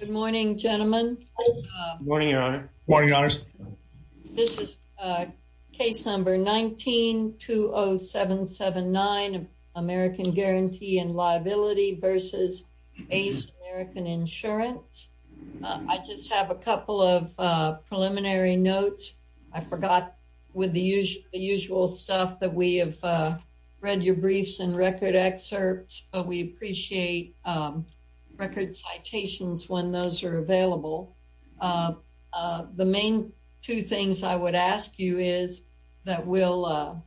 Good morning, gentlemen. Good morning, Your Honor. Good morning, Your Honors. This is case number 19-20779, American Guarantee & Liability v. ACE American Insurance. I just have a couple of preliminary notes. I forgot with the usual stuff that we have read your briefs and record excerpts, but we appreciate record citations when those are available. The main two things I would ask you is that we'll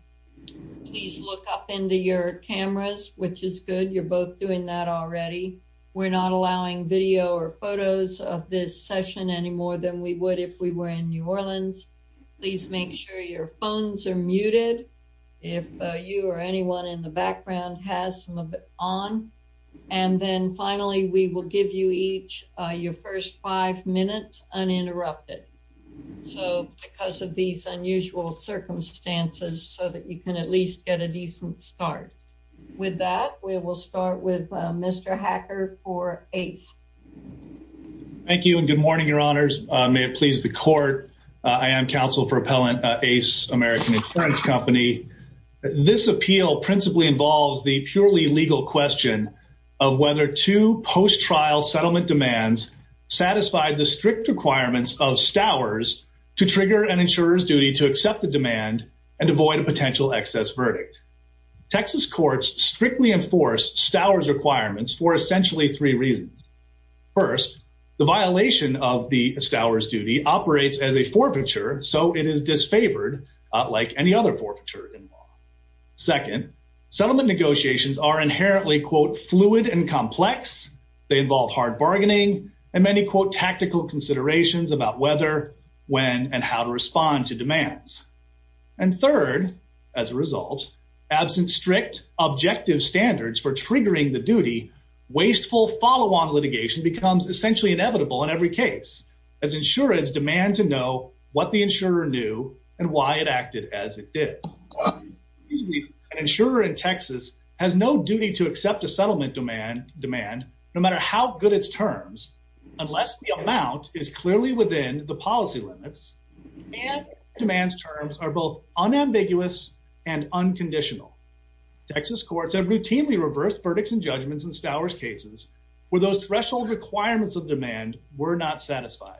please look up into your cameras, which is good. You're both doing that already. We're not allowing video or photos of this session any more than we would if we were in New Orleans. Please make sure your phones are muted if you or anyone in the background has some of it on. And then finally, we will give you each your first five minutes uninterrupted because of these unusual circumstances so that you can at least get a decent start. With that, we will start with Mr. Hacker for ACE. Thank you and good morning, Your Honors. May it please the Court, I am counsel for appellant ACE American Insurance Company. This appeal principally involves the purely legal question of whether two post-trial settlement demands satisfied the strict requirements of Stowers to trigger an insurer's duty to accept the demand and avoid a potential excess verdict. Texas courts strictly enforce Stowers requirements for essentially three reasons. First, the violation of the Stowers duty operates as a forfeiture, so it is disfavored like any other forfeiture in law. Second, settlement negotiations are inherently, quote, fluid and complex. They involve hard bargaining and many, quote, tactical considerations about whether, when, and how to respond to demands. And third, as a result, absent strict objective standards for triggering the duty, wasteful follow-on litigation becomes essentially inevitable in every case, as insurers demand to know what the insurer knew and why it acted as it did. An insurer in Texas has no duty to accept a settlement demand, no matter how good its terms, unless the amount is clearly within the policy limits and demands terms are both unambiguous and unconditional. Texas courts have routinely reversed verdicts and judgments in Stowers cases where those threshold requirements of demand were not satisfied.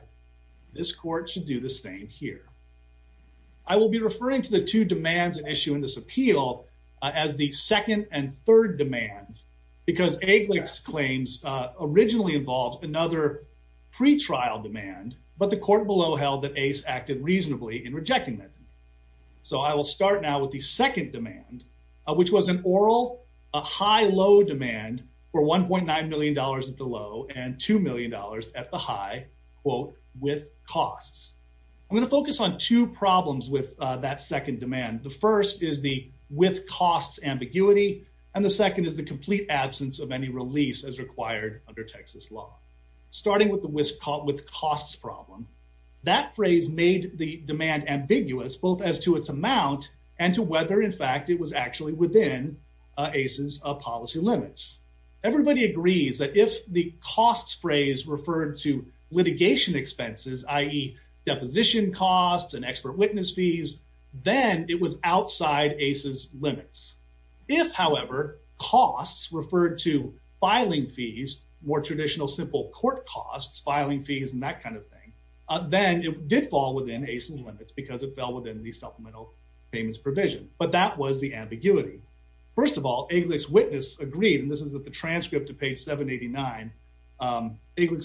This court should do the same here. I will be referring to the two demands at issue in this appeal as the second and third demand because Eglick's claims originally involved another pretrial demand, but the court below held that Ace acted reasonably in rejecting that. So I will start now with the second demand, which was an oral high-low demand for $1.9 million at the low and $2 million at the high, quote, with costs. I'm going to focus on two problems with that second demand. The first is the with costs ambiguity, and the second is the complete absence of any release as required under Texas law. Starting with the with costs problem, that phrase made the demand ambiguous, both as to its amount and to whether, in fact, it was actually within Ace's policy limits. Everybody agrees that if the costs phrase referred to litigation expenses, i.e. deposition costs and expert witness fees, then it was outside Ace's limits. If, however, costs referred to filing fees, more traditional simple court costs, filing fees and that kind of thing, then it did fall within Ace's limits because it fell within the supplemental payments provision, but that was the ambiguity. First of all, a witness agreed, and this is the transcript to page 789. A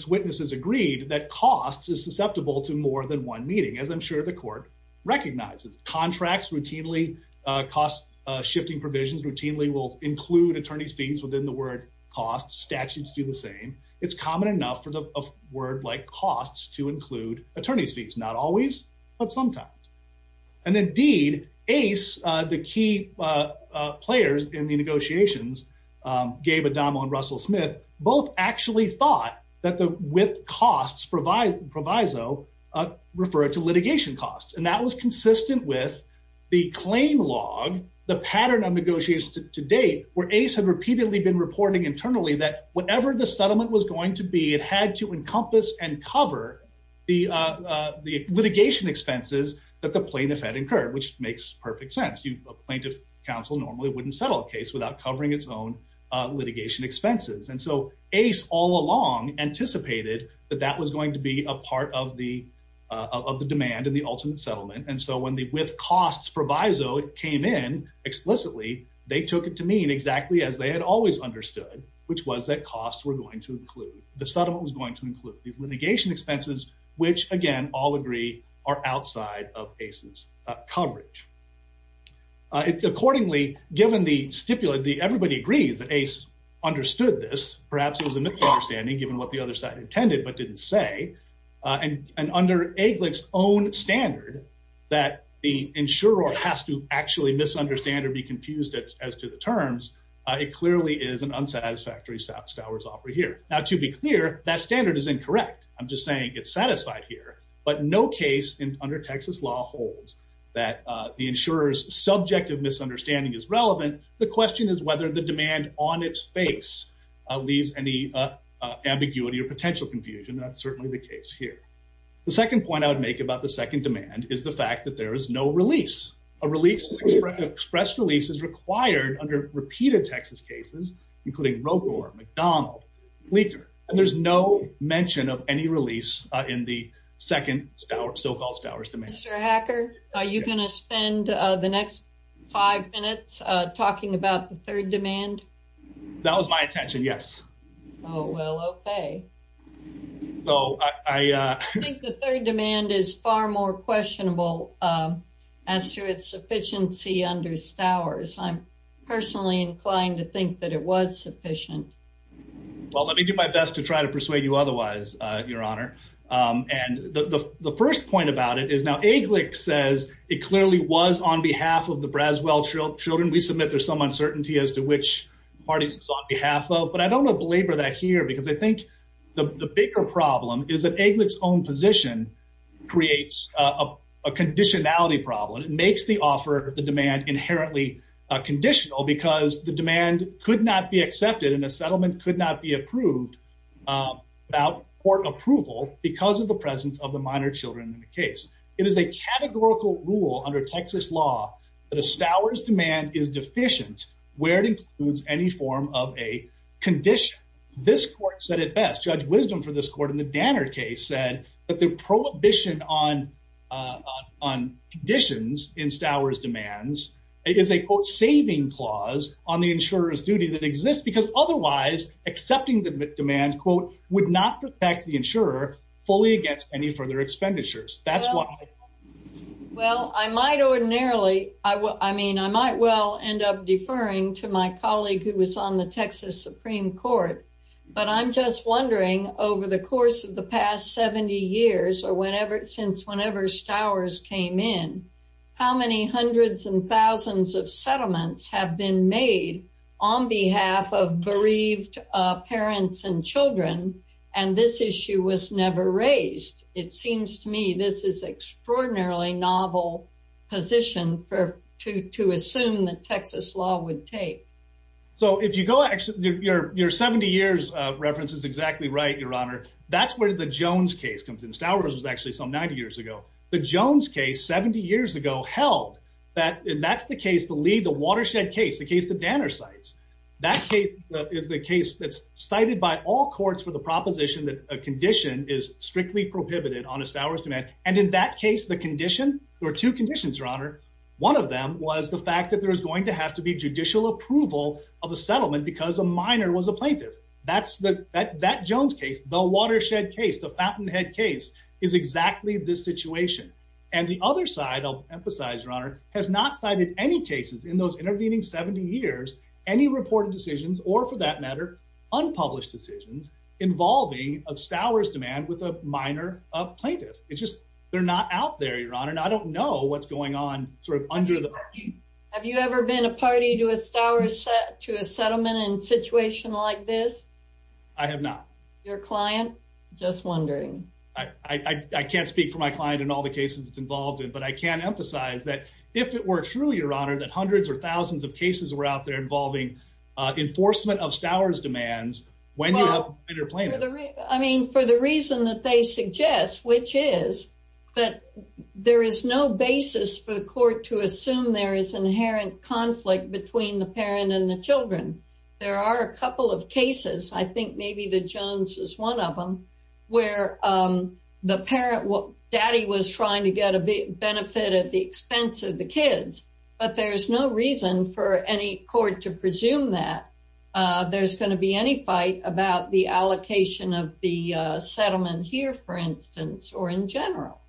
witness has agreed that costs is susceptible to more than one meeting, as I'm sure the court recognizes. Contracts routinely cost shifting provisions routinely will include attorney's fees within the word costs. Statutes do the same. It's common enough for the word like costs to include attorney's fees, not always, but sometimes. And indeed, Ace, the key players in the negotiations, Gabe Adamo and Russell Smith, both actually thought that the with costs proviso referred to litigation costs. And that was consistent with the claim log, the pattern of negotiations to date where Ace had repeatedly been reporting internally that whatever the settlement was going to be, it had to encompass and cover the litigation expenses that the plaintiff had incurred, which makes perfect sense. A plaintiff counsel normally wouldn't settle a case without covering its own litigation expenses. And so Ace all along anticipated that that was going to be a part of the demand in the ultimate settlement. And so when the with costs proviso came in explicitly, they took it to mean exactly as they had always understood, which was that costs were going to include, the settlement was going to include the litigation expenses, which again, all agree are outside of Ace's coverage. Accordingly, given the stipulate, everybody agrees that Ace understood this, perhaps it was a misunderstanding, given what the other side intended, but didn't say. And under AGLIC's own standard, that the insurer has to actually misunderstand or be confused as to the terms, it clearly is an unsatisfactory Stowers offer here. Now, to be clear, that standard is incorrect. I'm just saying it's satisfied here. But no case under Texas law holds that the insurer's subjective misunderstanding is relevant. The question is whether the demand on its face leaves any ambiguity or potential confusion. That's certainly the case here. The second point I would make about the second demand is the fact that there is no release. A release, express release is required under repeated Texas cases, including Rogor, McDonald, Leaker. And there's no mention of any release in the second Stowers, so-called Stowers demand. Mr. Hacker, are you going to spend the next five minutes talking about the third demand? That was my intention, yes. Oh, well, okay. So I- I think the third demand is far more questionable as to its sufficiency under Stowers. I'm personally inclined to think that it was sufficient. Well, let me do my best to try to persuade you otherwise, Your Honor. And the first point about it is now AGLIC says it clearly was on behalf of the Braswell children. We submit there's some uncertainty as to which parties it was on behalf of. But I don't want to belabor that here because I think the bigger problem is that AGLIC's own position creates a conditionality problem. It makes the offer, the demand inherently conditional because the demand could not be accepted and the settlement could not be approved without court approval because of the presence of the minor children in the case. It is a categorical rule under Texas law that a Stowers demand is deficient where it includes any form of a condition. This court said it best. Judge Wisdom for this court in the Dannard case said that the prohibition on conditions in Stowers demands is a, quote, saving clause on the insurer's duty that exists because otherwise accepting the demand, quote, would not protect the insurer fully against any further expenditures. Well, I might ordinarily, I mean, I might well end up deferring to my colleague who was on the Texas Supreme Court. But I'm just wondering over the course of the past 70 years or whenever since whenever Stowers came in, how many hundreds and thousands of settlements have been made on behalf of bereaved parents and children. And this issue was never raised. It seems to me this is extraordinarily novel position to assume that Texas law would take. So if you go actually your 70 years reference is exactly right, Your Honor. That's where the Jones case comes in. Stowers was actually some 90 years ago. The Jones case 70 years ago held that that's the case to lead the watershed case, the case the Danner sites. That case is the case that's cited by all courts for the proposition that a condition is strictly prohibited on a Stowers demand. And in that case, the condition or two conditions, Your Honor. One of them was the fact that there is going to have to be judicial approval of a settlement because a minor was a plaintiff. That's the that that Jones case, the watershed case, the Fountainhead case is exactly this situation. And the other side of emphasize, Your Honor, has not cited any cases in those intervening 70 years, any reported decisions or for that matter, unpublished decisions involving a Stowers demand with a minor plaintiff. It's just they're not out there, Your Honor. And I don't know what's going on sort of under the. Have you ever been a party to a Stowers to a settlement in a situation like this? I have not. Your client just wondering, I can't speak for my client in all the cases it's involved in, but I can't emphasize that if it were true, Your Honor, that hundreds or thousands of cases were out there involving enforcement of Stowers demands. Well, I mean, for the reason that they suggest, which is that there is no basis for the court to assume there is inherent conflict between the parent and the children. There are a couple of cases. I think maybe the Jones is one of them where the parent, what daddy was trying to get a benefit at the expense of the kids. But there's no reason for any court to presume that there's going to be any fight about the allocation of the settlement here, for instance, or in general.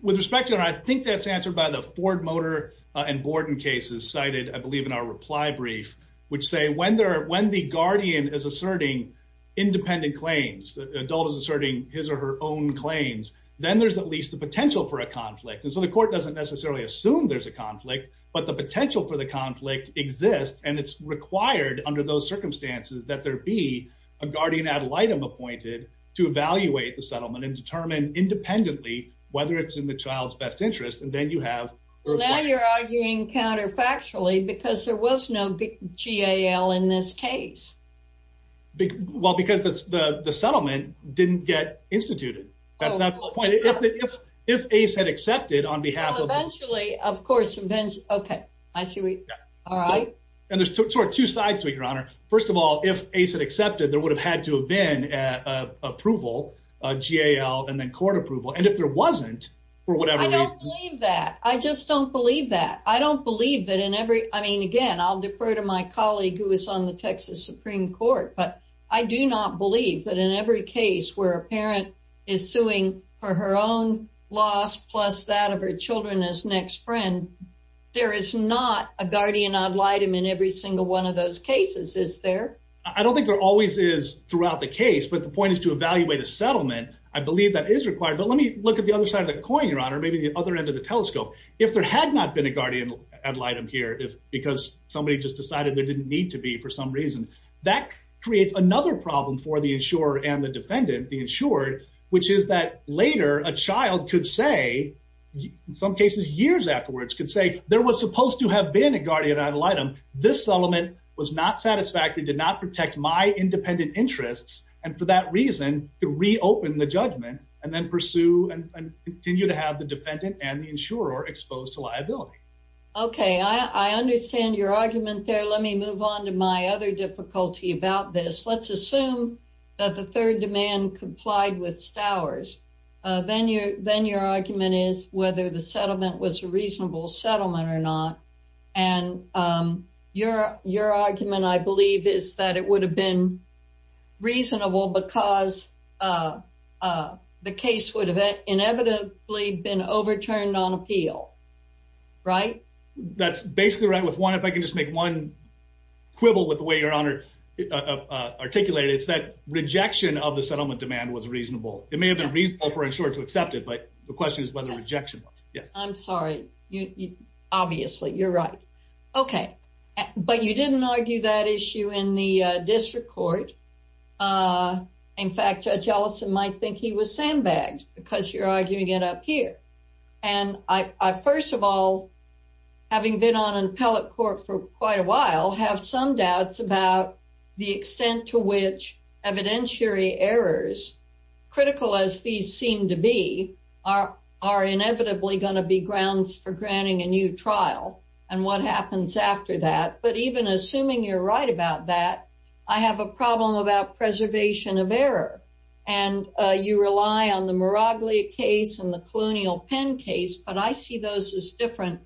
With respect to and I think that's answered by the Ford Motor and Borden cases cited, I believe, in our reply brief, which say when there are when the guardian is asserting independent claims, the adult is asserting his or her own claims. Then there's at least the potential for a conflict. And so the court doesn't necessarily assume there's a conflict, but the potential for the conflict exists. And it's required under those circumstances that there be a guardian ad litem appointed to evaluate the settlement and determine independently whether it's in the child's best interest. And then you have. Now you're arguing counterfactually because there was no big GAL in this case. Well, because the settlement didn't get instituted. If Ace had accepted on behalf of eventually, of course, eventually. Okay, I see. All right. And there's sort of two sides to it, Your Honor. First of all, if Ace had accepted, there would have had to have been approval GAL and then court approval. And if there wasn't for whatever reason. I don't believe that. I just don't believe that. I don't believe that in every. I mean, again, I'll defer to my colleague who was on the Texas Supreme Court, but I do not believe that in every case where a parent is suing for her own loss, plus that of her children as next friend. There is not a guardian ad litem in every single one of those cases is there. I don't think there always is throughout the case, but the point is to evaluate a settlement. I believe that is required. But let me look at the other side of the coin, Your Honor, maybe the other end of the telescope. If there had not been a guardian ad litem here, if because somebody just decided there didn't need to be for some reason, that creates another problem for the insurer and the defendant, the insured, which is that later a child could say. In some cases, years afterwards could say there was supposed to have been a guardian ad litem. This settlement was not satisfactory, did not protect my independent interests. And for that reason, to reopen the judgment and then pursue and continue to have the defendant and the insurer exposed to liability. Okay, I understand your argument there. Let me move on to my other difficulty about this. Let's assume that the third demand complied with Stowers. Then your argument is whether the settlement was a reasonable settlement or not. And your argument, I believe, is that it would have been reasonable because the case would have inevitably been overturned on appeal. Right? That's basically right. If I can just make one quibble with the way Your Honor articulated it, it's that rejection of the settlement demand was reasonable. It may have been reasonable for an insurer to accept it, but the question is whether rejection was. I'm sorry. Obviously, you're right. Okay. But you didn't argue that issue in the district court. In fact, Judge Ellison might think he was sandbagged because you're arguing it up here. And I, first of all, having been on an appellate court for quite a while, have some doubts about the extent to which evidentiary errors, critical as these seem to be, are inevitably going to be grounds for granting a new trial and what happens after that. But even assuming you're right about that, I have a problem about preservation of error. And you rely on the Miraglia case and the Colonial Penn case, but I see those as different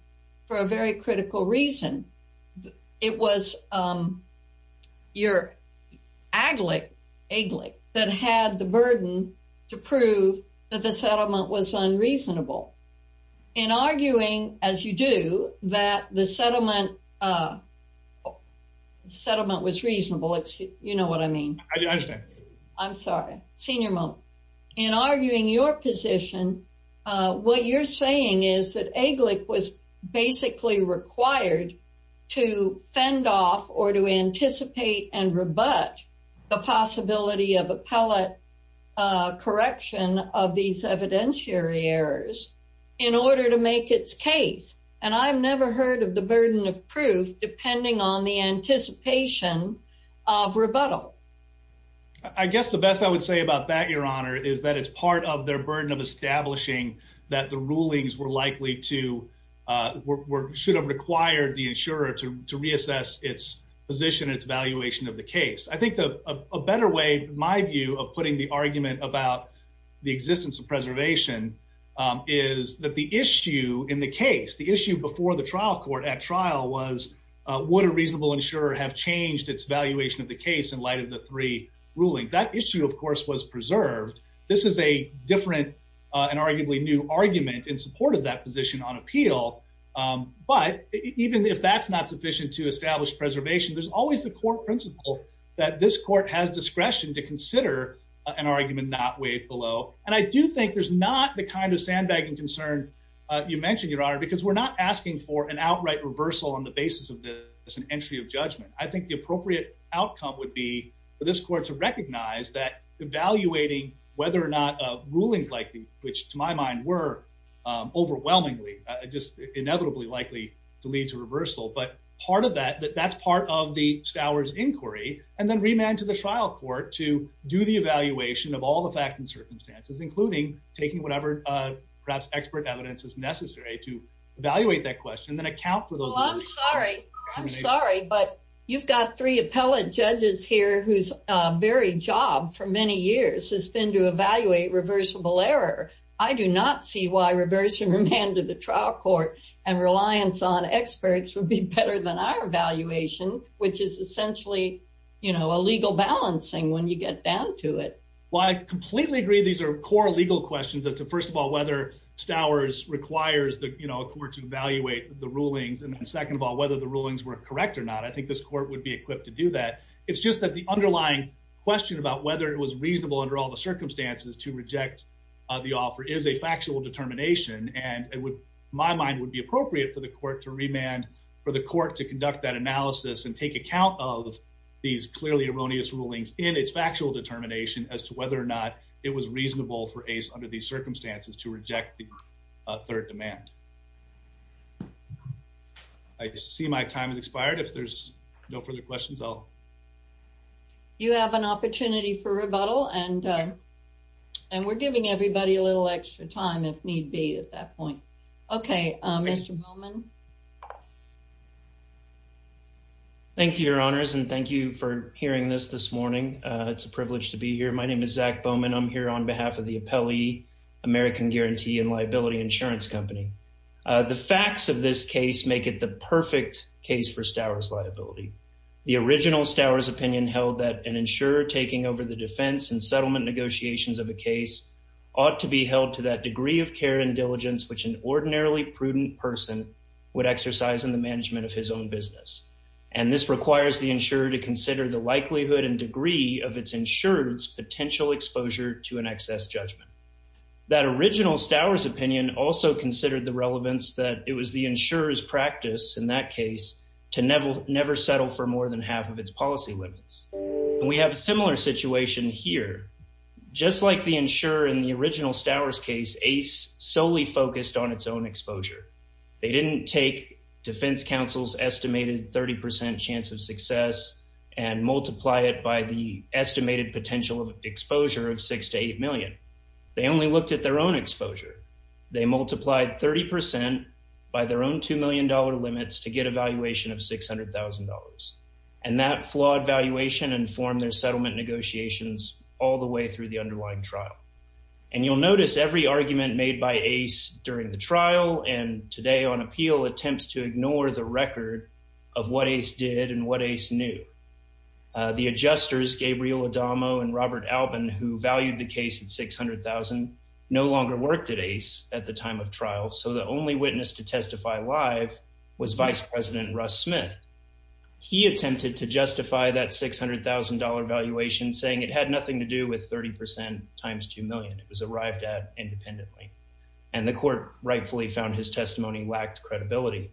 for a very critical reason. It was your AGLIC that had the burden to prove that the settlement was unreasonable. In arguing, as you do, that the settlement was reasonable, you know what I mean. I understand. I'm sorry. Senior moment. In arguing your position, what you're saying is that AGLIC was basically required to fend off or to anticipate and rebut the possibility of appellate correction of these evidentiary errors in order to make its case. And I've never heard of the burden of proof depending on the anticipation of rebuttal. I guess the best I would say about that, Your Honor, is that it's part of their burden of establishing that the rulings were likely to, should have required the insurer to reassess its position, its valuation of the case. I think a better way, in my view, of putting the argument about the existence of preservation is that the issue in the case, the issue before the trial court at trial was, would a reasonable insurer have changed its valuation of the case in light of the three rulings? That issue, of course, was preserved. This is a different and arguably new argument in support of that position on appeal. But even if that's not sufficient to establish preservation, there's always the core principle that this court has discretion to consider an argument not weighed below. And I do think there's not the kind of sandbagging concern you mentioned, Your Honor, because we're not asking for an outright reversal on the basis of this as an entry of judgment. I think the appropriate outcome would be for this court to recognize that evaluating whether or not rulings like these, which to my mind were overwhelmingly, just inevitably likely to lead to reversal. But part of that, that's part of the Stowers inquiry, and then remand to the trial court to do the evaluation of all the facts and circumstances, including taking whatever perhaps expert evidence is necessary to evaluate that question and then account for those rulings. I'm sorry, but you've got three appellate judges here whose very job for many years has been to evaluate reversible error. I do not see why reversing remand to the trial court and reliance on experts would be better than our evaluation, which is essentially, you know, a legal balancing when you get down to it. Well, I completely agree these are core legal questions. First of all, whether Stowers requires the court to evaluate the rulings, and second of all, whether the rulings were correct or not, I think this court would be equipped to do that. It's just that the underlying question about whether it was reasonable under all the circumstances to reject the offer is a factual determination, and it would, in my mind, would be appropriate for the court to remand, for the court to conduct that analysis and take account of these clearly erroneous rulings in its factual determination as to whether or not it was reasonable for ACE under these circumstances to reject the third demand. I see my time has expired. If there's no further questions, I'll... You have an opportunity for rebuttal, and we're giving everybody a little extra time if need be at that point. Okay, Mr. Bowman. Thank you, Your Honors, and thank you for hearing this this morning. It's a privilege to be here. My name is Zach Bowman. I'm here on behalf of the Appellee American Guarantee and Liability Insurance Company. The facts of this case make it the perfect case for Stowers' liability. The original Stowers' opinion held that an insurer taking over the defense and settlement negotiations of a case ought to be held to that degree of care and diligence which an ordinarily prudent person would exercise in the management of his own business. And this requires the insurer to consider the likelihood and degree of its insurer's potential exposure to an excess judgment. That original Stowers' opinion also considered the relevance that it was the insurer's practice in that case to never settle for more than half of its policy limits. And we have a similar situation here. Just like the insurer in the original Stowers' case, ACE solely focused on its own exposure. They didn't take defense counsel's estimated 30% chance of success and multiply it by the estimated potential of exposure of 6 to 8 million. They only looked at their own exposure. They multiplied 30% by their own $2 million limits to get a valuation of $600,000. And that flawed valuation informed their settlement negotiations all the way through the underlying trial. And you'll notice every argument made by ACE during the trial and today on appeal attempts to ignore the record of what ACE did and what ACE knew. The adjusters, Gabriel Adamo and Robert Albin, who valued the case at $600,000, no longer worked at ACE at the time of trial, so the only witness to testify live was Vice President Russ Smith. He attempted to justify that $600,000 valuation, saying it had nothing to do with 30% times 2 million. It was arrived at independently. And the court rightfully found his testimony lacked credibility.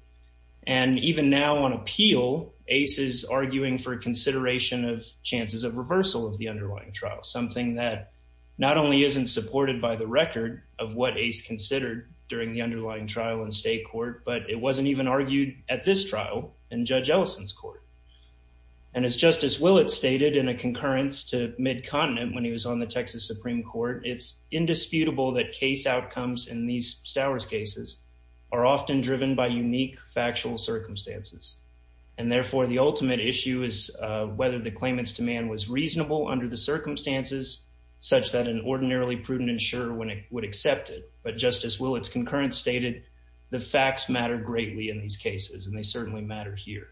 And even now on appeal, ACE is arguing for consideration of chances of reversal of the underlying trial, something that not only isn't supported by the record of what ACE considered during the underlying trial in state court, but it wasn't even argued at this trial in Judge Ellison's court. And as Justice Willett stated in a concurrence to Mid-Continent when he was on the Texas Supreme Court, it's indisputable that case outcomes in these Stowers cases are often driven by unique factual circumstances. And therefore, the ultimate issue is whether the claimant's demand was reasonable under the circumstances such that an ordinarily prudent insurer would accept it. But Justice Willett's concurrence stated the facts matter greatly in these cases, and they certainly matter here.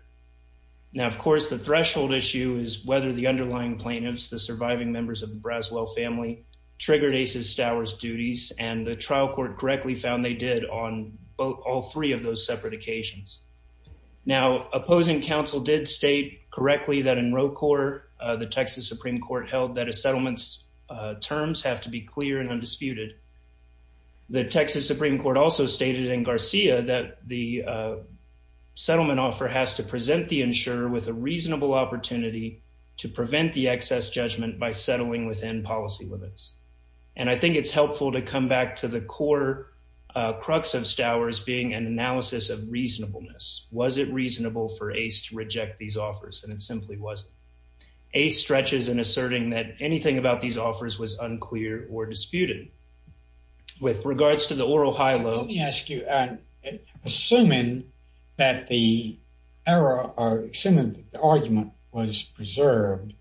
Now, of course, the threshold issue is whether the underlying plaintiffs, the surviving members of the Braswell family, triggered ACE's Stowers duties and the trial court correctly found they did on all three of those separate occasions. Now, opposing counsel did state correctly that in Roe v. Coeur, the Texas Supreme Court held that a settlement's terms have to be clear and undisputed. The Texas Supreme Court also stated in Garcia that the settlement offer has to present the insurer with a reasonable opportunity to prevent the excess judgment by settling within policy limits. And I think it's helpful to come back to the core crux of Stowers being an analysis of reasonableness. Was it reasonable for ACE to reject these offers? And it simply wasn't. ACE stretches in asserting that anything about these offers was unclear or disputed. With regards to the oral high law. Let me ask you, assuming that the argument was preserved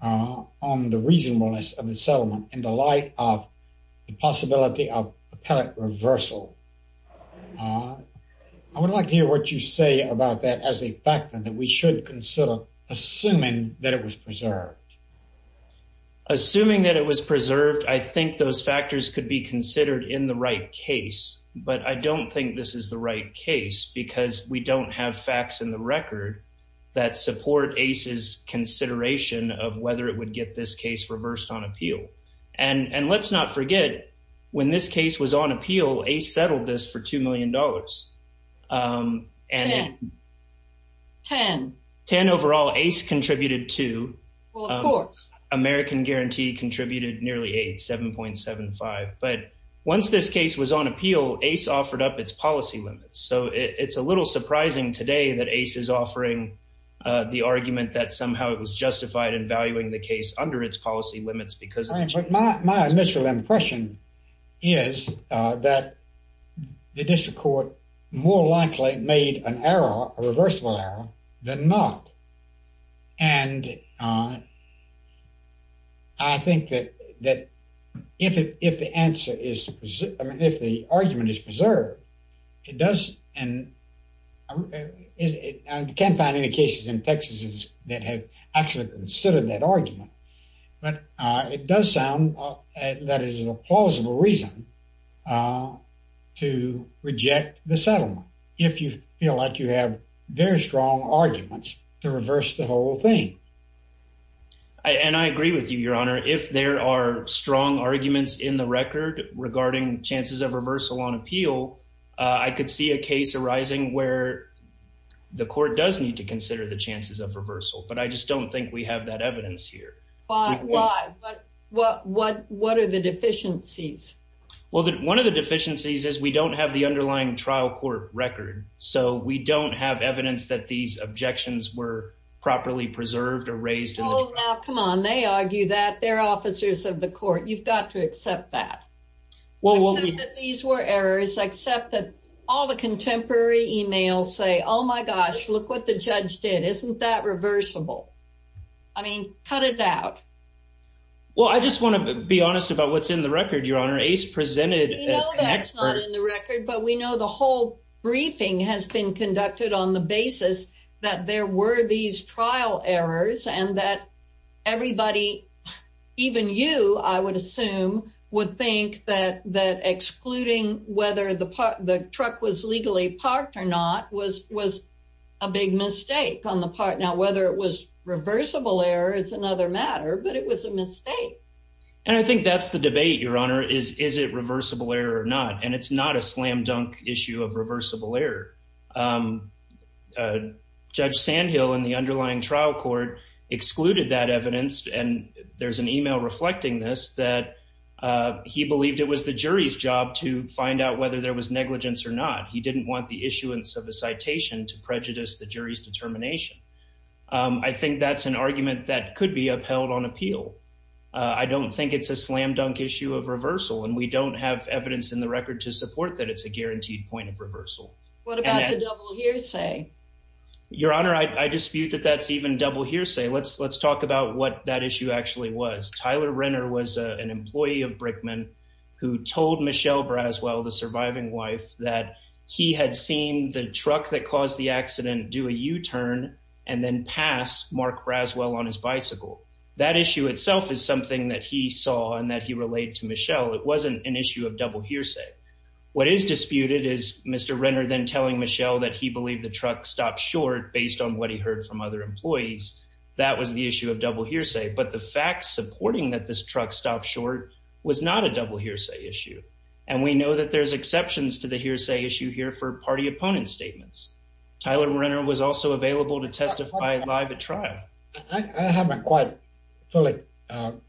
on the reasonableness of the settlement in the light of the possibility of appellate reversal, I would like to hear what you say about that as a factor that we should consider, assuming that it was preserved. Assuming that it was preserved, I think those factors could be considered in the right case. But I don't think this is the right case because we don't have facts in the record that support ACE's consideration of whether it would get this case reversed on appeal. And let's not forget, when this case was on appeal, ACE settled this for $2 million. Ten. Ten. Ten overall. ACE contributed two. Well, of course, American Guarantee contributed nearly eight, 7.75. But once this case was on appeal, ACE offered up its policy limits. So it's a little surprising today that ACE is offering the argument that somehow it was justified in valuing the case under its policy limits because. My initial impression is that the district court more likely made an error, a reversible error than not. And. I think that that if it if the answer is, I mean, if the argument is preserved, it does. And I can't find any cases in Texas that have actually considered that argument, but it does sound that is a plausible reason to reject the settlement. If you feel like you have very strong arguments to reverse the whole thing. And I agree with you, Your Honor, if there are strong arguments in the record regarding chances of reversal on appeal, I could see a case arising where the court does need to consider the chances of reversal. But I just don't think we have that evidence here. But what what what what are the deficiencies? Well, one of the deficiencies is we don't have the underlying trial court record. So we don't have evidence that these objections were properly preserved or raised. Now, come on. They argue that they're officers of the court. You've got to accept that. Well, these were errors, except that all the contemporary emails say, oh, my gosh, look what the judge did. Isn't that reversible? I mean, cut it out. Well, I just want to be honest about what's in the record, Your Honor. Ace presented. That's not in the record, but we know the whole briefing has been conducted on the basis that there were these trial errors and that everybody, even you, I would assume, would think that that excluding whether the the truck was legally parked or not was was a big mistake on the part. Now, whether it was reversible error, it's another matter. But it was a mistake. And I think that's the debate, Your Honor, is is it reversible error or not? And it's not a slam dunk issue of reversible error. Judge Sandhill and the underlying trial court excluded that evidence. And there's an email reflecting this, that he believed it was the jury's job to find out whether there was negligence or not. He didn't want the issuance of a citation to prejudice the jury's determination. I think that's an argument that could be upheld on appeal. I don't think it's a slam dunk issue of reversal, and we don't have evidence in the record to support that it's a guaranteed point of reversal. What about the double hearsay? Your Honor, I dispute that that's even double hearsay. Let's let's talk about what that issue actually was. Tyler Renner was an employee of Brickman who told Michelle Braswell, the surviving wife, that he had seen the truck that caused the accident do a U-turn and then pass Mark Braswell on his bicycle. That issue itself is something that he saw and that he relayed to Michelle. It wasn't an issue of double hearsay. What is disputed is Mr. Renner then telling Michelle that he believed the truck stopped short based on what he heard from other employees. That was the issue of double hearsay. But the facts supporting that this truck stopped short was not a double hearsay issue. And we know that there's exceptions to the hearsay issue here for party opponent statements. Tyler Renner was also available to testify live at trial. I haven't quite fully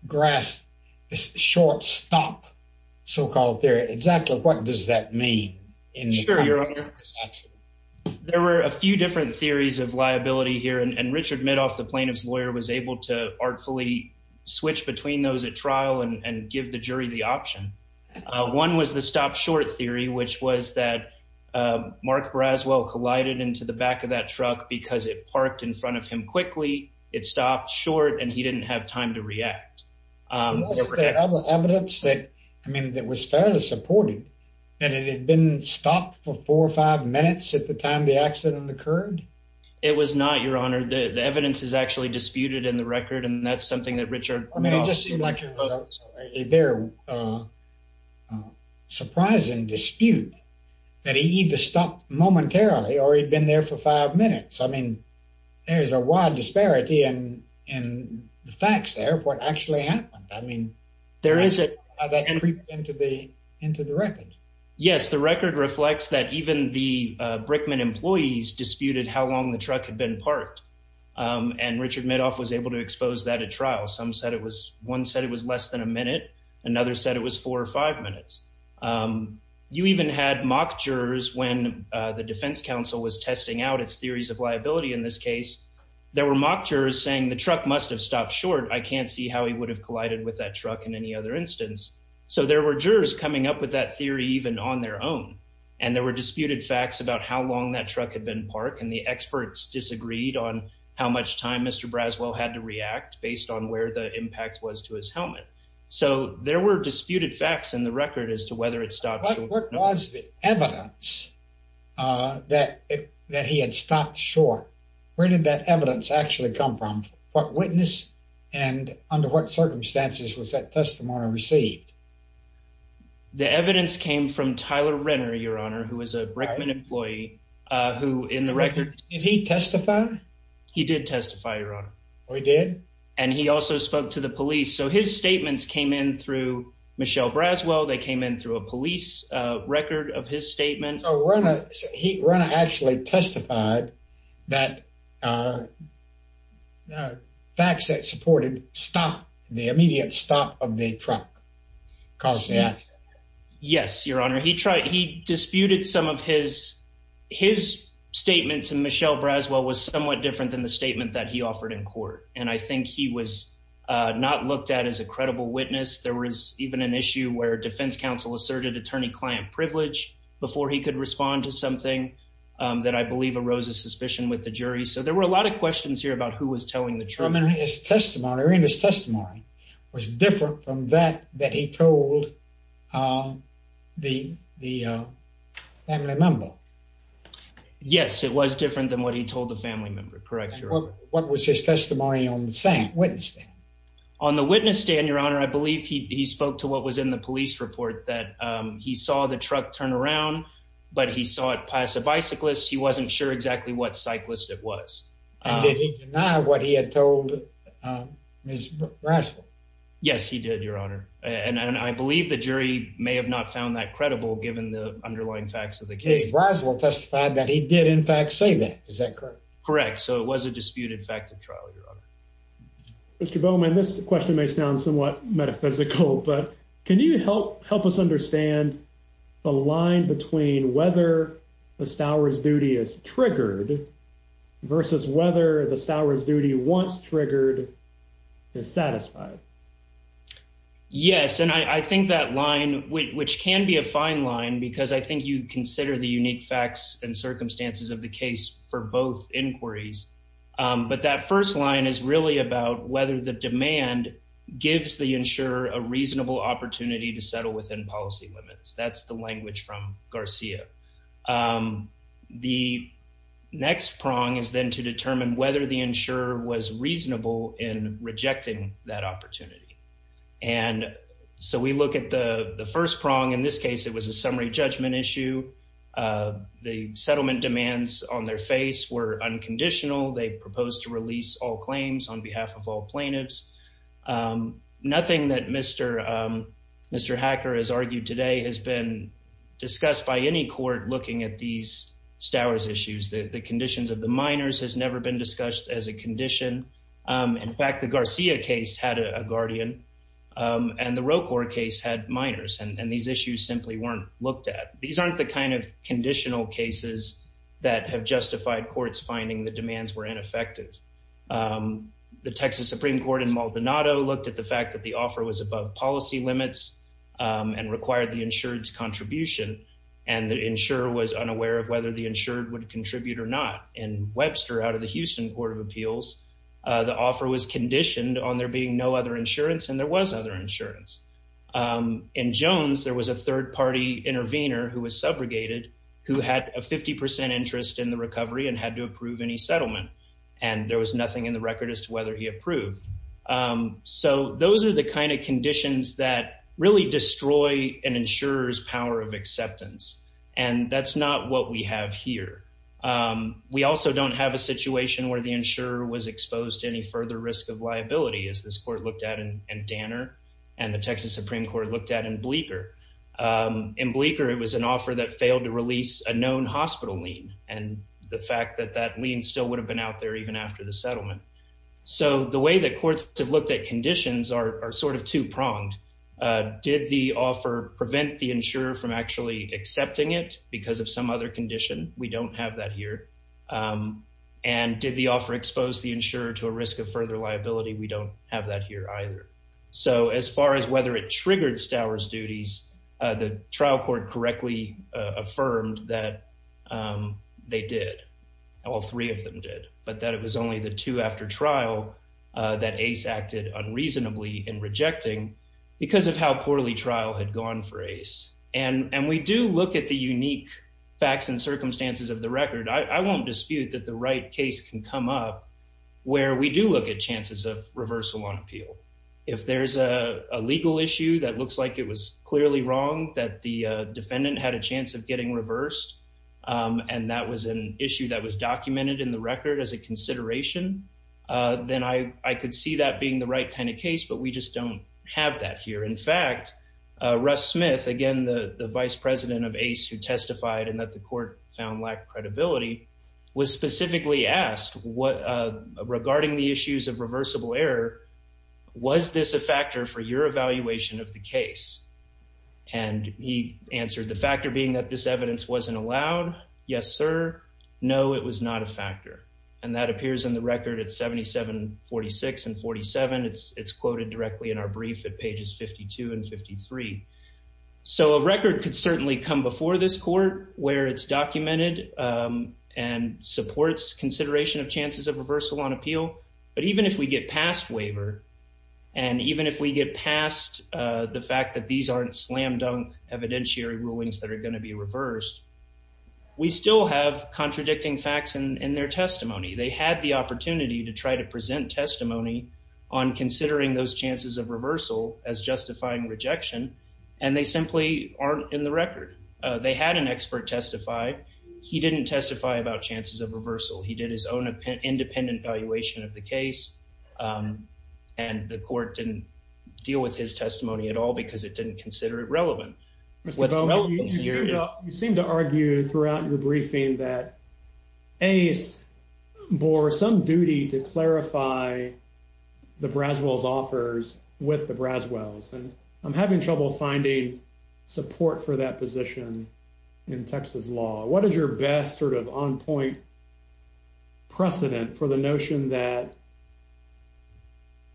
grasped this short stop so-called theory. Exactly what does that mean? Sure, Your Honor. There were a few different theories of liability here. And Richard Mitoff, the plaintiff's lawyer, was able to artfully switch between those at trial and give the jury the option. One was the stop short theory, which was that Mark Braswell collided into the back of that truck because it parked in front of him quickly. It stopped short, and he didn't have time to react. Was there other evidence that was fairly supported that it had been stopped for four or five minutes at the time the accident occurred? It was not, Your Honor. The evidence is actually disputed in the record, and that's something that Richard Mitoff— A very surprising dispute that he either stopped momentarily or he'd been there for five minutes. I mean, there's a wide disparity in the facts there of what actually happened. I mean— There is a— How that creeped into the record. Yes, the record reflects that even the Brickman employees disputed how long the truck had been parked, and Richard Mitoff was able to expose that at trial. Some said it was—one said it was less than a minute. Another said it was four or five minutes. You even had mock jurors when the defense counsel was testing out its theories of liability in this case. There were mock jurors saying the truck must have stopped short. I can't see how he would have collided with that truck in any other instance. So there were jurors coming up with that theory even on their own, and there were disputed facts about how long that truck had been parked, and the experts disagreed on how much time Mr. Braswell had to react based on where the impact was to his helmet. So there were disputed facts in the record as to whether it stopped short or not. What was the evidence that he had stopped short? Where did that evidence actually come from? What witness and under what circumstances was that testimony received? The evidence came from Tyler Renner, Your Honor, who was a Breckman employee, who in the record— Did he testify? He did testify, Your Honor. Oh, he did? And he also spoke to the police. So his statements came in through Michelle Braswell. They came in through a police record of his statement. So Renner actually testified that facts that supported the immediate stop of the truck caused the accident? Yes, Your Honor. He disputed some of his—his statement to Michelle Braswell was somewhat different than the statement that he offered in court, and I think he was not looked at as a credible witness. There was even an issue where defense counsel asserted attorney-client privilege before he could respond to something that I believe arose a suspicion with the jury. So there were a lot of questions here about who was telling the truth. His testimony—Renner's testimony was different from that that he told the family member. Yes, it was different than what he told the family member. Correct, Your Honor. What was his testimony on the witness stand? On the witness stand, Your Honor, I believe he spoke to what was in the police report, that he saw the truck turn around, but he saw it pass a bicyclist. He wasn't sure exactly what cyclist it was. And did he deny what he had told Ms. Braswell? Yes, he did, Your Honor. And I believe the jury may have not found that credible given the underlying facts of the case. Ms. Braswell testified that he did, in fact, say that. Is that correct? Correct. So it was a disputed fact of trial, Your Honor. Mr. Bowman, this question may sound somewhat metaphysical, but can you help us understand the line between whether the stower's duty is triggered versus whether the stower's duty, once triggered, is satisfied? Yes, and I think that line, which can be a fine line, because I think you consider the unique facts and circumstances of the case for both inquiries. But that first line is really about whether the demand gives the insurer a reasonable opportunity to settle within policy limits. That's the language from Garcia. The next prong is then to determine whether the insurer was reasonable in rejecting that opportunity. And so we look at the first prong. In this case, it was a summary judgment issue. The settlement demands on their face were unconditional. They proposed to release all claims on behalf of all plaintiffs. Nothing that Mr. Hacker has argued today has been discussed by any court looking at these stowers issues. The conditions of the minors has never been discussed as a condition. In fact, the Garcia case had a guardian, and the Roquefort case had minors, and these issues simply weren't looked at. These aren't the kind of conditional cases that have justified courts finding the demands were ineffective. The Texas Supreme Court in Maldonado looked at the fact that the offer was above policy limits and required the insured's contribution, and the insurer was unaware of whether the insured would contribute or not. In Webster out of the Houston Court of Appeals, the offer was conditioned on there being no other insurance, and there was other insurance. In Jones, there was a third-party intervener who was subrogated who had a 50% interest in the recovery and had to approve any settlement, and there was nothing in the record as to whether he approved. So those are the kind of conditions that really destroy an insurer's power of acceptance, and that's not what we have here. We also don't have a situation where the insurer was exposed to any further risk of liability, as this court looked at in Danner and the Texas Supreme Court looked at in Bleeker. In Bleeker, it was an offer that failed to release a known hospital lien and the fact that that lien still would have been out there even after the settlement. So the way that courts have looked at conditions are sort of two-pronged. Did the offer prevent the insurer from actually accepting it because of some other condition? We don't have that here. And did the offer expose the insurer to a risk of further liability? We don't have that here either. So as far as whether it triggered Stowers' duties, the trial court correctly affirmed that they did, all three of them did, but that it was only the two after trial that Ace acted unreasonably in rejecting because of how poorly trial had gone for Ace. And we do look at the unique facts and circumstances of the record. I won't dispute that the right case can come up where we do look at chances of reversal on appeal. If there is a legal issue that looks like it was clearly wrong that the defendant had a chance of getting reversed and that was an issue that was documented in the record as a consideration, then I could see that being the right kind of case, but we just don't have that here. In fact, Russ Smith, again, the vice president of Ace who testified and that the court found lacked credibility, was specifically asked regarding the issues of reversible error, was this a factor for your evaluation of the case? And he answered, the factor being that this evidence wasn't allowed, yes, sir. No, it was not a factor. And that appears in the record at 7746 and 47. It's quoted directly in our brief at pages 52 and 53. So a record could certainly come before this court where it's documented and supports consideration of chances of reversal on appeal. But even if we get past waiver and even if we get past the fact that these aren't slam dunk evidentiary rulings that are going to be reversed, we still have contradicting facts in their testimony. They had the opportunity to try to present testimony on considering those chances of reversal as justifying rejection, and they simply aren't in the record. They had an expert testify. He didn't testify about chances of reversal. He did his own independent evaluation of the case, and the court didn't deal with his testimony at all because it didn't consider it relevant. Mr. Bowman, you seem to argue throughout your briefing that Ace bore some duty to clarify the Braswells' offers with the Braswells. And I'm having trouble finding support for that position in Texas law. What is your best sort of on-point precedent for the notion that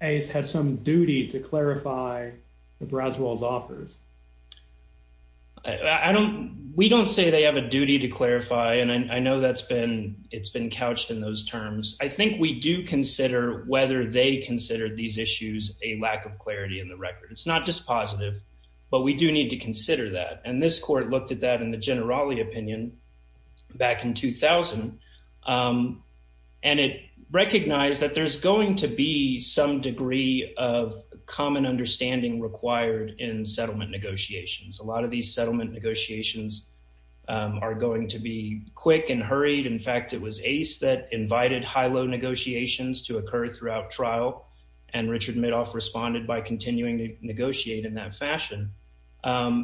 Ace had some duty to clarify the Braswells' offers? We don't say they have a duty to clarify, and I know it's been couched in those terms. I think we do consider whether they considered these issues a lack of clarity in the record. It's not just positive, but we do need to consider that. And this court looked at that in the Generali opinion back in 2000, and it recognized that there's going to be some degree of common understanding required in settlement negotiations. A lot of these settlement negotiations are going to be quick and hurried. In fact, it was Ace that invited high-low negotiations to occur throughout trial, and Richard Middolf responded by continuing to negotiate in that fashion.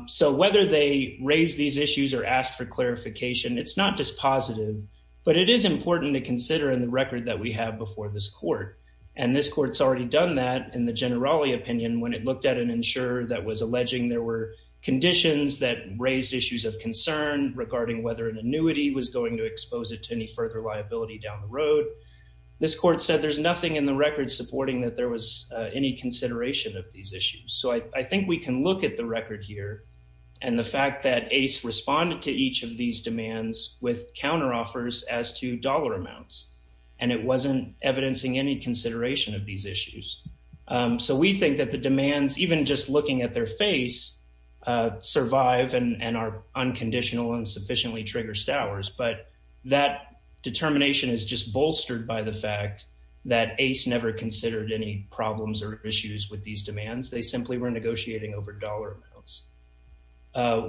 So whether they raise these issues or ask for clarification, it's not just positive, but it is important to consider in the record that we have before this court. And this court's already done that in the Generali opinion when it looked at an insurer that was alleging there were conditions that raised issues of concern regarding whether an annuity was going to expose it to any further liability down the road. This court said there's nothing in the record supporting that there was any consideration of these issues. So I think we can look at the record here and the fact that Ace responded to each of these demands with counteroffers as to dollar amounts, and it wasn't evidencing any consideration of these issues. So we think that the demands, even just looking at their face, survive and are unconditional and sufficiently trigger stowers. But that determination is just bolstered by the fact that Ace never considered any problems or issues with these demands. They simply were negotiating over dollar amounts.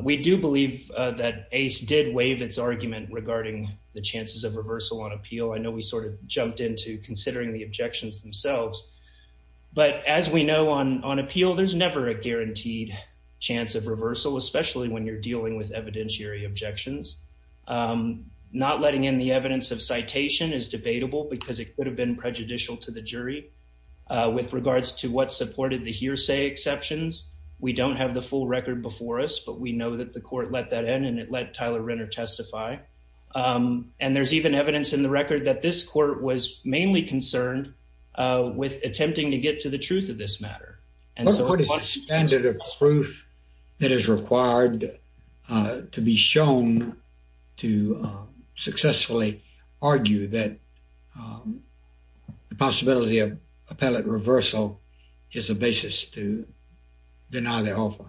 We do believe that Ace did waive its argument regarding the chances of reversal on appeal. I know we sort of jumped into considering the objections themselves. But as we know, on appeal, there's never a guaranteed chance of reversal, especially when you're dealing with evidentiary objections. Not letting in the evidence of citation is debatable because it could have been prejudicial to the jury. With regards to what supported the hearsay exceptions, we don't have the full record before us, but we know that the court let that in and it let Tyler Renner testify. And there's even evidence in the record that this court was mainly concerned with attempting to get to the truth of this matter. What is the standard of proof that is required to be shown to successfully argue that the possibility of appellate reversal is a basis to deny the offer?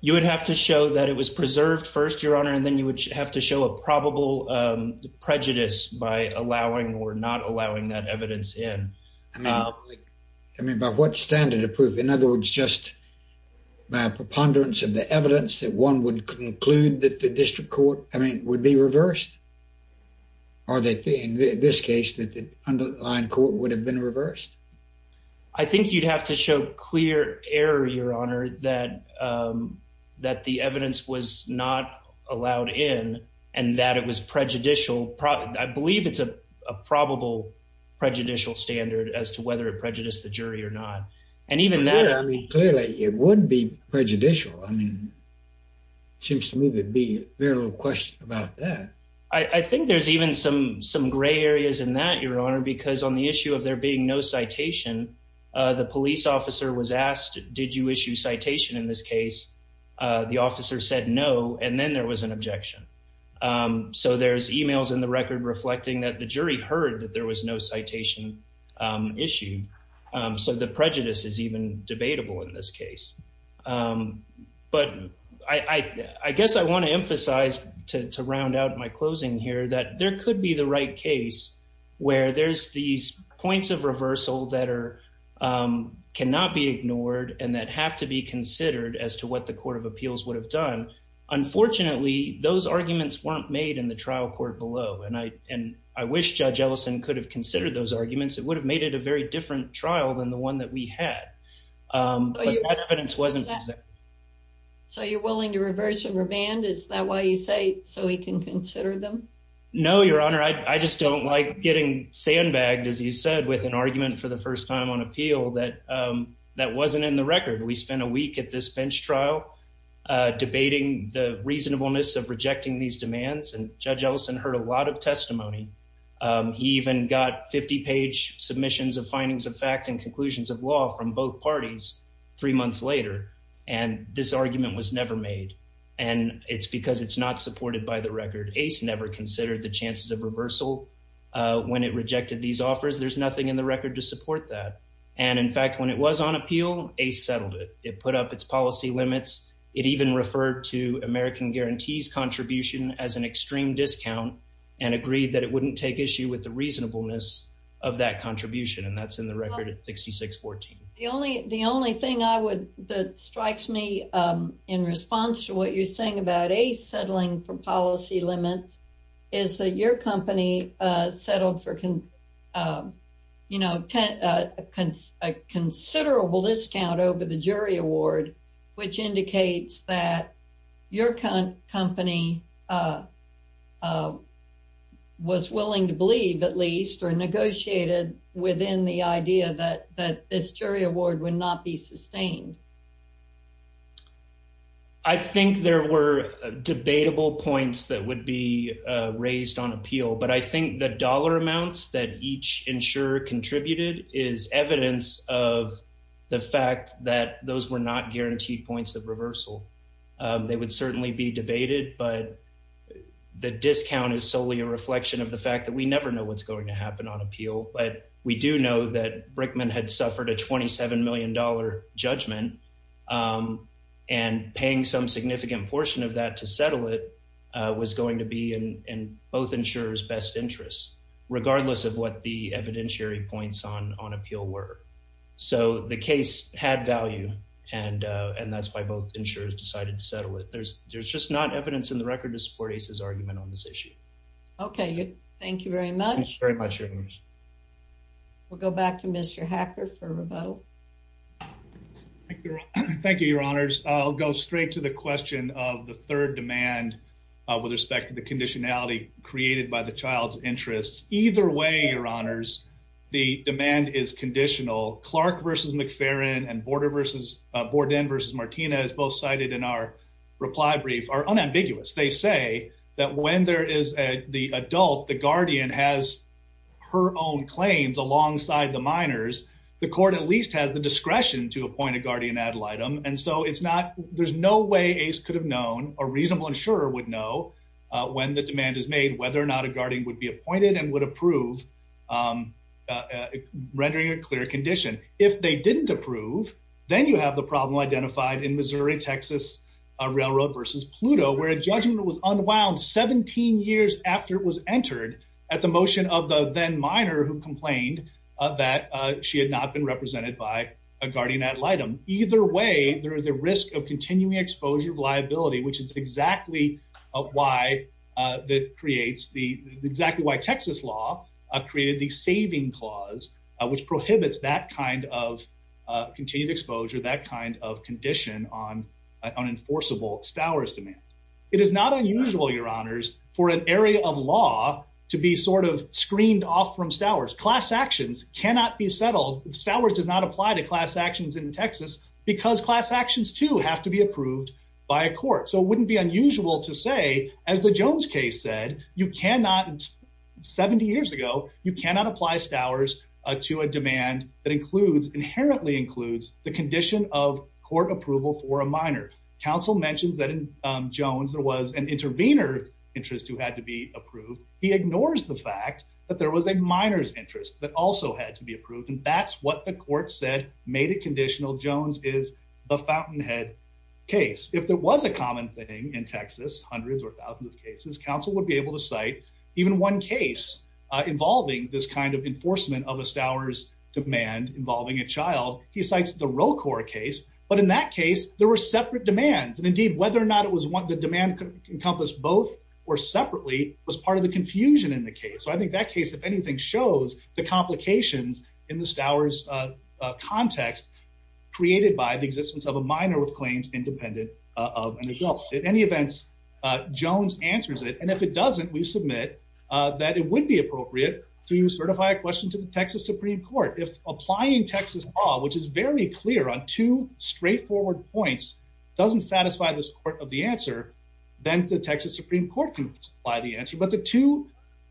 You would have to show that it was preserved first, Your Honor, and then you would have to show a probable prejudice by allowing or not allowing that evidence in. I mean, by what standard of proof? In other words, just by a preponderance of the evidence that one would conclude that the district court would be reversed? Are they saying in this case that the underlying court would have been reversed? I think you'd have to show clear error, Your Honor, that the evidence was not allowed in and that it was prejudicial. I believe it's a probable prejudicial standard as to whether it prejudiced the jury or not. And even that, I mean, clearly it wouldn't be prejudicial. I mean, it seems to me there'd be very little question about that. I think there's even some gray areas in that, Your Honor, because on the issue of there being no citation, the police officer was asked, did you issue citation in this case? The officer said no, and then there was an objection. So there's emails in the record reflecting that the jury heard that there was no citation issued. So the prejudice is even debatable in this case. But I guess I want to emphasize to round out my closing here that there could be the right case where there's these points of reversal that cannot be ignored and that have to be considered as to what the court of appeals would have done. Unfortunately, those arguments weren't made in the trial court below, and I wish Judge Ellison could have considered those arguments. It would have made it a very different trial than the one that we had. But that evidence wasn't there. So you're willing to reverse and revand? Is that why you say so he can consider them? No, Your Honor, I just don't like getting sandbagged, as you said, with an argument for the first time on appeal that wasn't in the record. We spent a week at this bench trial debating the reasonableness of rejecting these demands, and Judge Ellison heard a lot of testimony. He even got 50-page submissions of findings of fact and conclusions of law from both parties three months later, and this argument was never made. And it's because it's not supported by the record. Ace never considered the chances of reversal when it rejected these offers. There's nothing in the record to support that. And, in fact, when it was on appeal, Ace settled it. It put up its policy limits. It even referred to American Guarantee's contribution as an extreme discount and agreed that it wouldn't take issue with the reasonableness of that contribution. And that's in the record at 6614. The only thing that strikes me in response to what you're saying about Ace settling for policy limits is that your company settled for a considerable discount over the jury award, which indicates that your company was willing to believe, at least, or negotiated within the idea that this jury award would not be sustained. I think there were debatable points that would be raised on appeal, but I think the dollar amounts that each insurer contributed is evidence of the fact that those were not guaranteed points of reversal. They would certainly be debated, but the discount is solely a reflection of the fact that we never know what's going to happen on appeal. But we do know that Brickman had suffered a $27 million judgment, and paying some significant portion of that to settle it was going to be in both insurers' best interest, regardless of what the evidentiary points on appeal were. So the case had value, and that's why both insurers decided to settle it. There's just not evidence in the record to support Ace's argument on this issue. Okay, thank you very much. Thank you very much, Your Honors. We'll go back to Mr. Hacker for rebuttal. Thank you, Your Honors. I'll go straight to the question of the third demand with respect to the conditionality created by the child's interests. Either way, Your Honors, the demand is conditional. Clark v. McFerrin and Bourdain v. Martinez, both cited in our reply brief, are unambiguous. They say that when there is the adult, the guardian has her own claims alongside the minors, the court at least has the discretion to appoint a guardian ad litem. And so it's not – there's no way Ace could have known, a reasonable insurer would know, when the demand is made, whether or not a guardian would be appointed and would approve, rendering a clear condition. If they didn't approve, then you have the problem identified in Missouri-Texas Railroad v. Pluto, where a judgment was unwound 17 years after it was entered at the motion of the then minor who complained that she had not been represented by a guardian ad litem. Either way, there is a risk of continuing exposure of liability, which is exactly why that creates the – exactly why Texas law created the saving clause, which prohibits that kind of continued exposure, that kind of condition on an enforceable STOWERS demand. It is not unusual, Your Honors, for an area of law to be sort of screened off from STOWERS. Class actions cannot be settled – STOWERS does not apply to class actions in Texas because class actions, too, have to be approved by a court. So it wouldn't be unusual to say, as the Jones case said, you cannot – 70 years ago, you cannot apply STOWERS to a demand that includes – inherently includes the condition of court approval for a minor. Counsel mentions that in Jones there was an intervener interest who had to be approved. He ignores the fact that there was a minor's interest that also had to be approved, and that's what the court said made it conditional. Jones is the fountainhead case. If there was a common thing in Texas, hundreds or thousands of cases, counsel would be able to cite even one case involving this kind of enforcement of a STOWERS demand involving a child. He cites the Roe Corps case. But in that case, there were separate demands. And indeed, whether or not it was – the demand encompassed both or separately was part of the confusion in the case. So I think that case, if anything, shows the complications in the STOWERS context created by the existence of a minor with claims independent of an adult. In any event, Jones answers it. And if it doesn't, we submit that it would be appropriate to certify a question to the Texas Supreme Court. However, if applying Texas law, which is very clear on two straightforward points, doesn't satisfy this court of the answer, then the Texas Supreme Court can apply the answer. But the two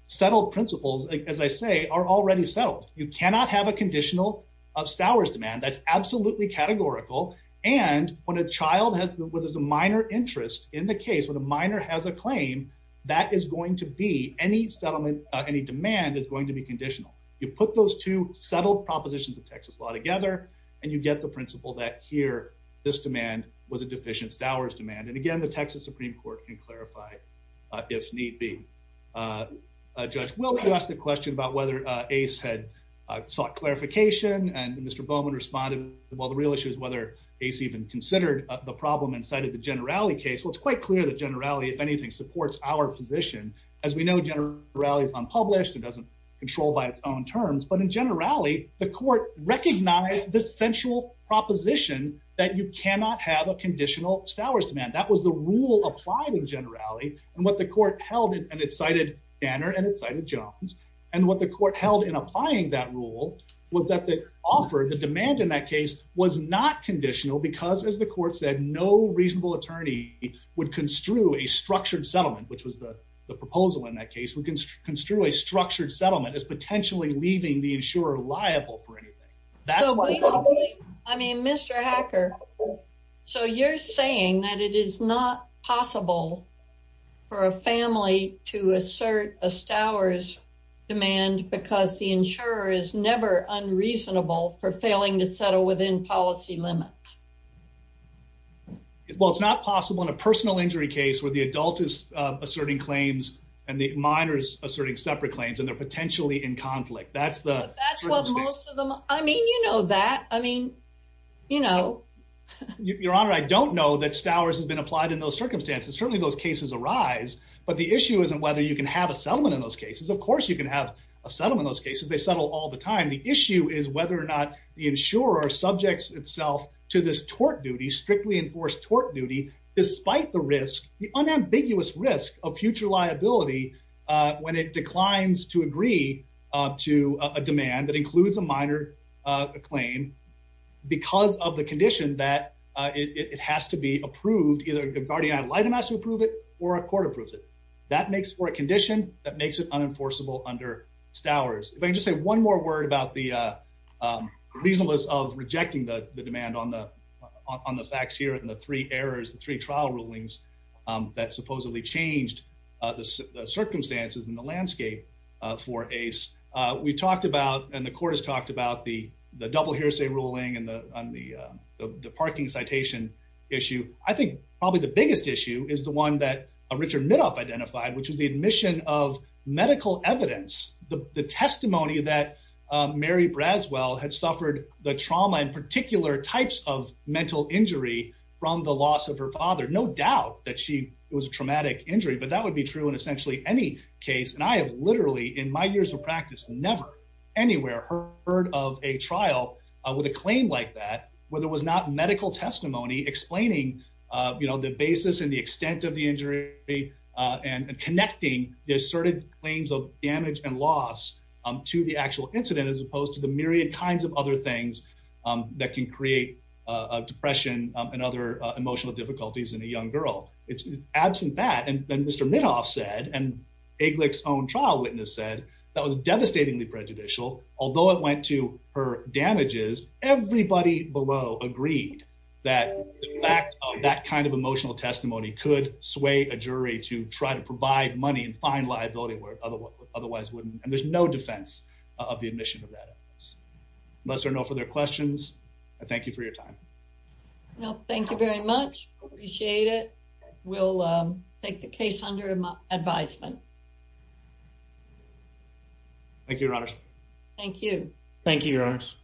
settled principles, as I say, are already settled. You cannot have a conditional of STOWERS demand. That's absolutely categorical. And when a child has – when there's a minor interest in the case, when a minor has a claim, that is going to be – any settlement, any demand is going to be conditional. You put those two settled propositions of Texas law together, and you get the principle that here this demand was a deficient STOWERS demand. And again, the Texas Supreme Court can clarify if need be. Judge, will you ask the question about whether Ace had sought clarification and Mr. Bowman responded to all the real issues, whether Ace even considered the problem and cited the Generali case? Well, it's quite clear that Generali, if anything, supports our position. As we know, Generali is unpublished. It doesn't control by its own terms. But in Generali, the court recognized the central proposition that you cannot have a conditional STOWERS demand. That was the rule applied in Generali, and what the court held – and it cited Banner and it cited Jones. And what the court held in applying that rule was that the offer, the demand in that case, was not conditional because, as the court said, no reasonable attorney would construe a structured settlement, which was the proposal in that case, would construe a structured settlement as potentially leaving the insurer liable for anything. I mean, Mr. Hacker, so you're saying that it is not possible for a family to assert a STOWERS demand because the insurer is never unreasonable for failing to settle within policy limits? Well, it's not possible in a personal injury case where the adult is asserting claims and the minor is asserting separate claims and they're potentially in conflict. That's what most of them – I mean, you know that. I mean, you know. Your Honor, I don't know that STOWERS has been applied in those circumstances. Certainly those cases arise, but the issue isn't whether you can have a settlement in those cases. Of course you can have a settlement in those cases. They settle all the time. The issue is whether or not the insurer subjects itself to this tort duty, strictly enforced tort duty, despite the risk, the unambiguous risk of future liability when it declines to agree to a demand that includes a minor claim because of the condition that it has to be approved. Either the guardian has to approve it or a court approves it. That makes for a condition that makes it unenforceable under STOWERS. If I can just say one more word about the reasonableness of rejecting the demand on the facts here and the three errors, the three trial rulings that supposedly changed the circumstances and the landscape for ACE. We talked about, and the court has talked about, the double hearsay ruling and the parking citation issue. I think probably the biggest issue is the one that Richard Mitup identified, which is the admission of medical evidence, the testimony that Mary Braswell had suffered the trauma and particular types of mental injury from the loss of her father. No doubt that she was a traumatic injury, but that would be true in essentially any case. And I have literally, in my years of practice, never anywhere heard of a trial with a claim like that where there was not medical testimony explaining the basis and the extent of the injury and connecting the asserted claims of damage and loss to the actual incident as opposed to the myriad kinds of other things that can create depression and other emotional difficulties in a young girl. Absent that, and then Mr. Mitoff said, and Eglick's own trial witness said, that was devastatingly prejudicial. Although it went to her damages, everybody below agreed that the fact of that kind of emotional testimony could sway a jury to try to provide money and find liability where otherwise wouldn't. And there's no defense of the admission of that evidence. Unless there are no further questions, I thank you for your time. Thank you very much. Appreciate it. We'll take the case under advisement. Thank you, Your Honors. Thank you. Thank you, Your Honors.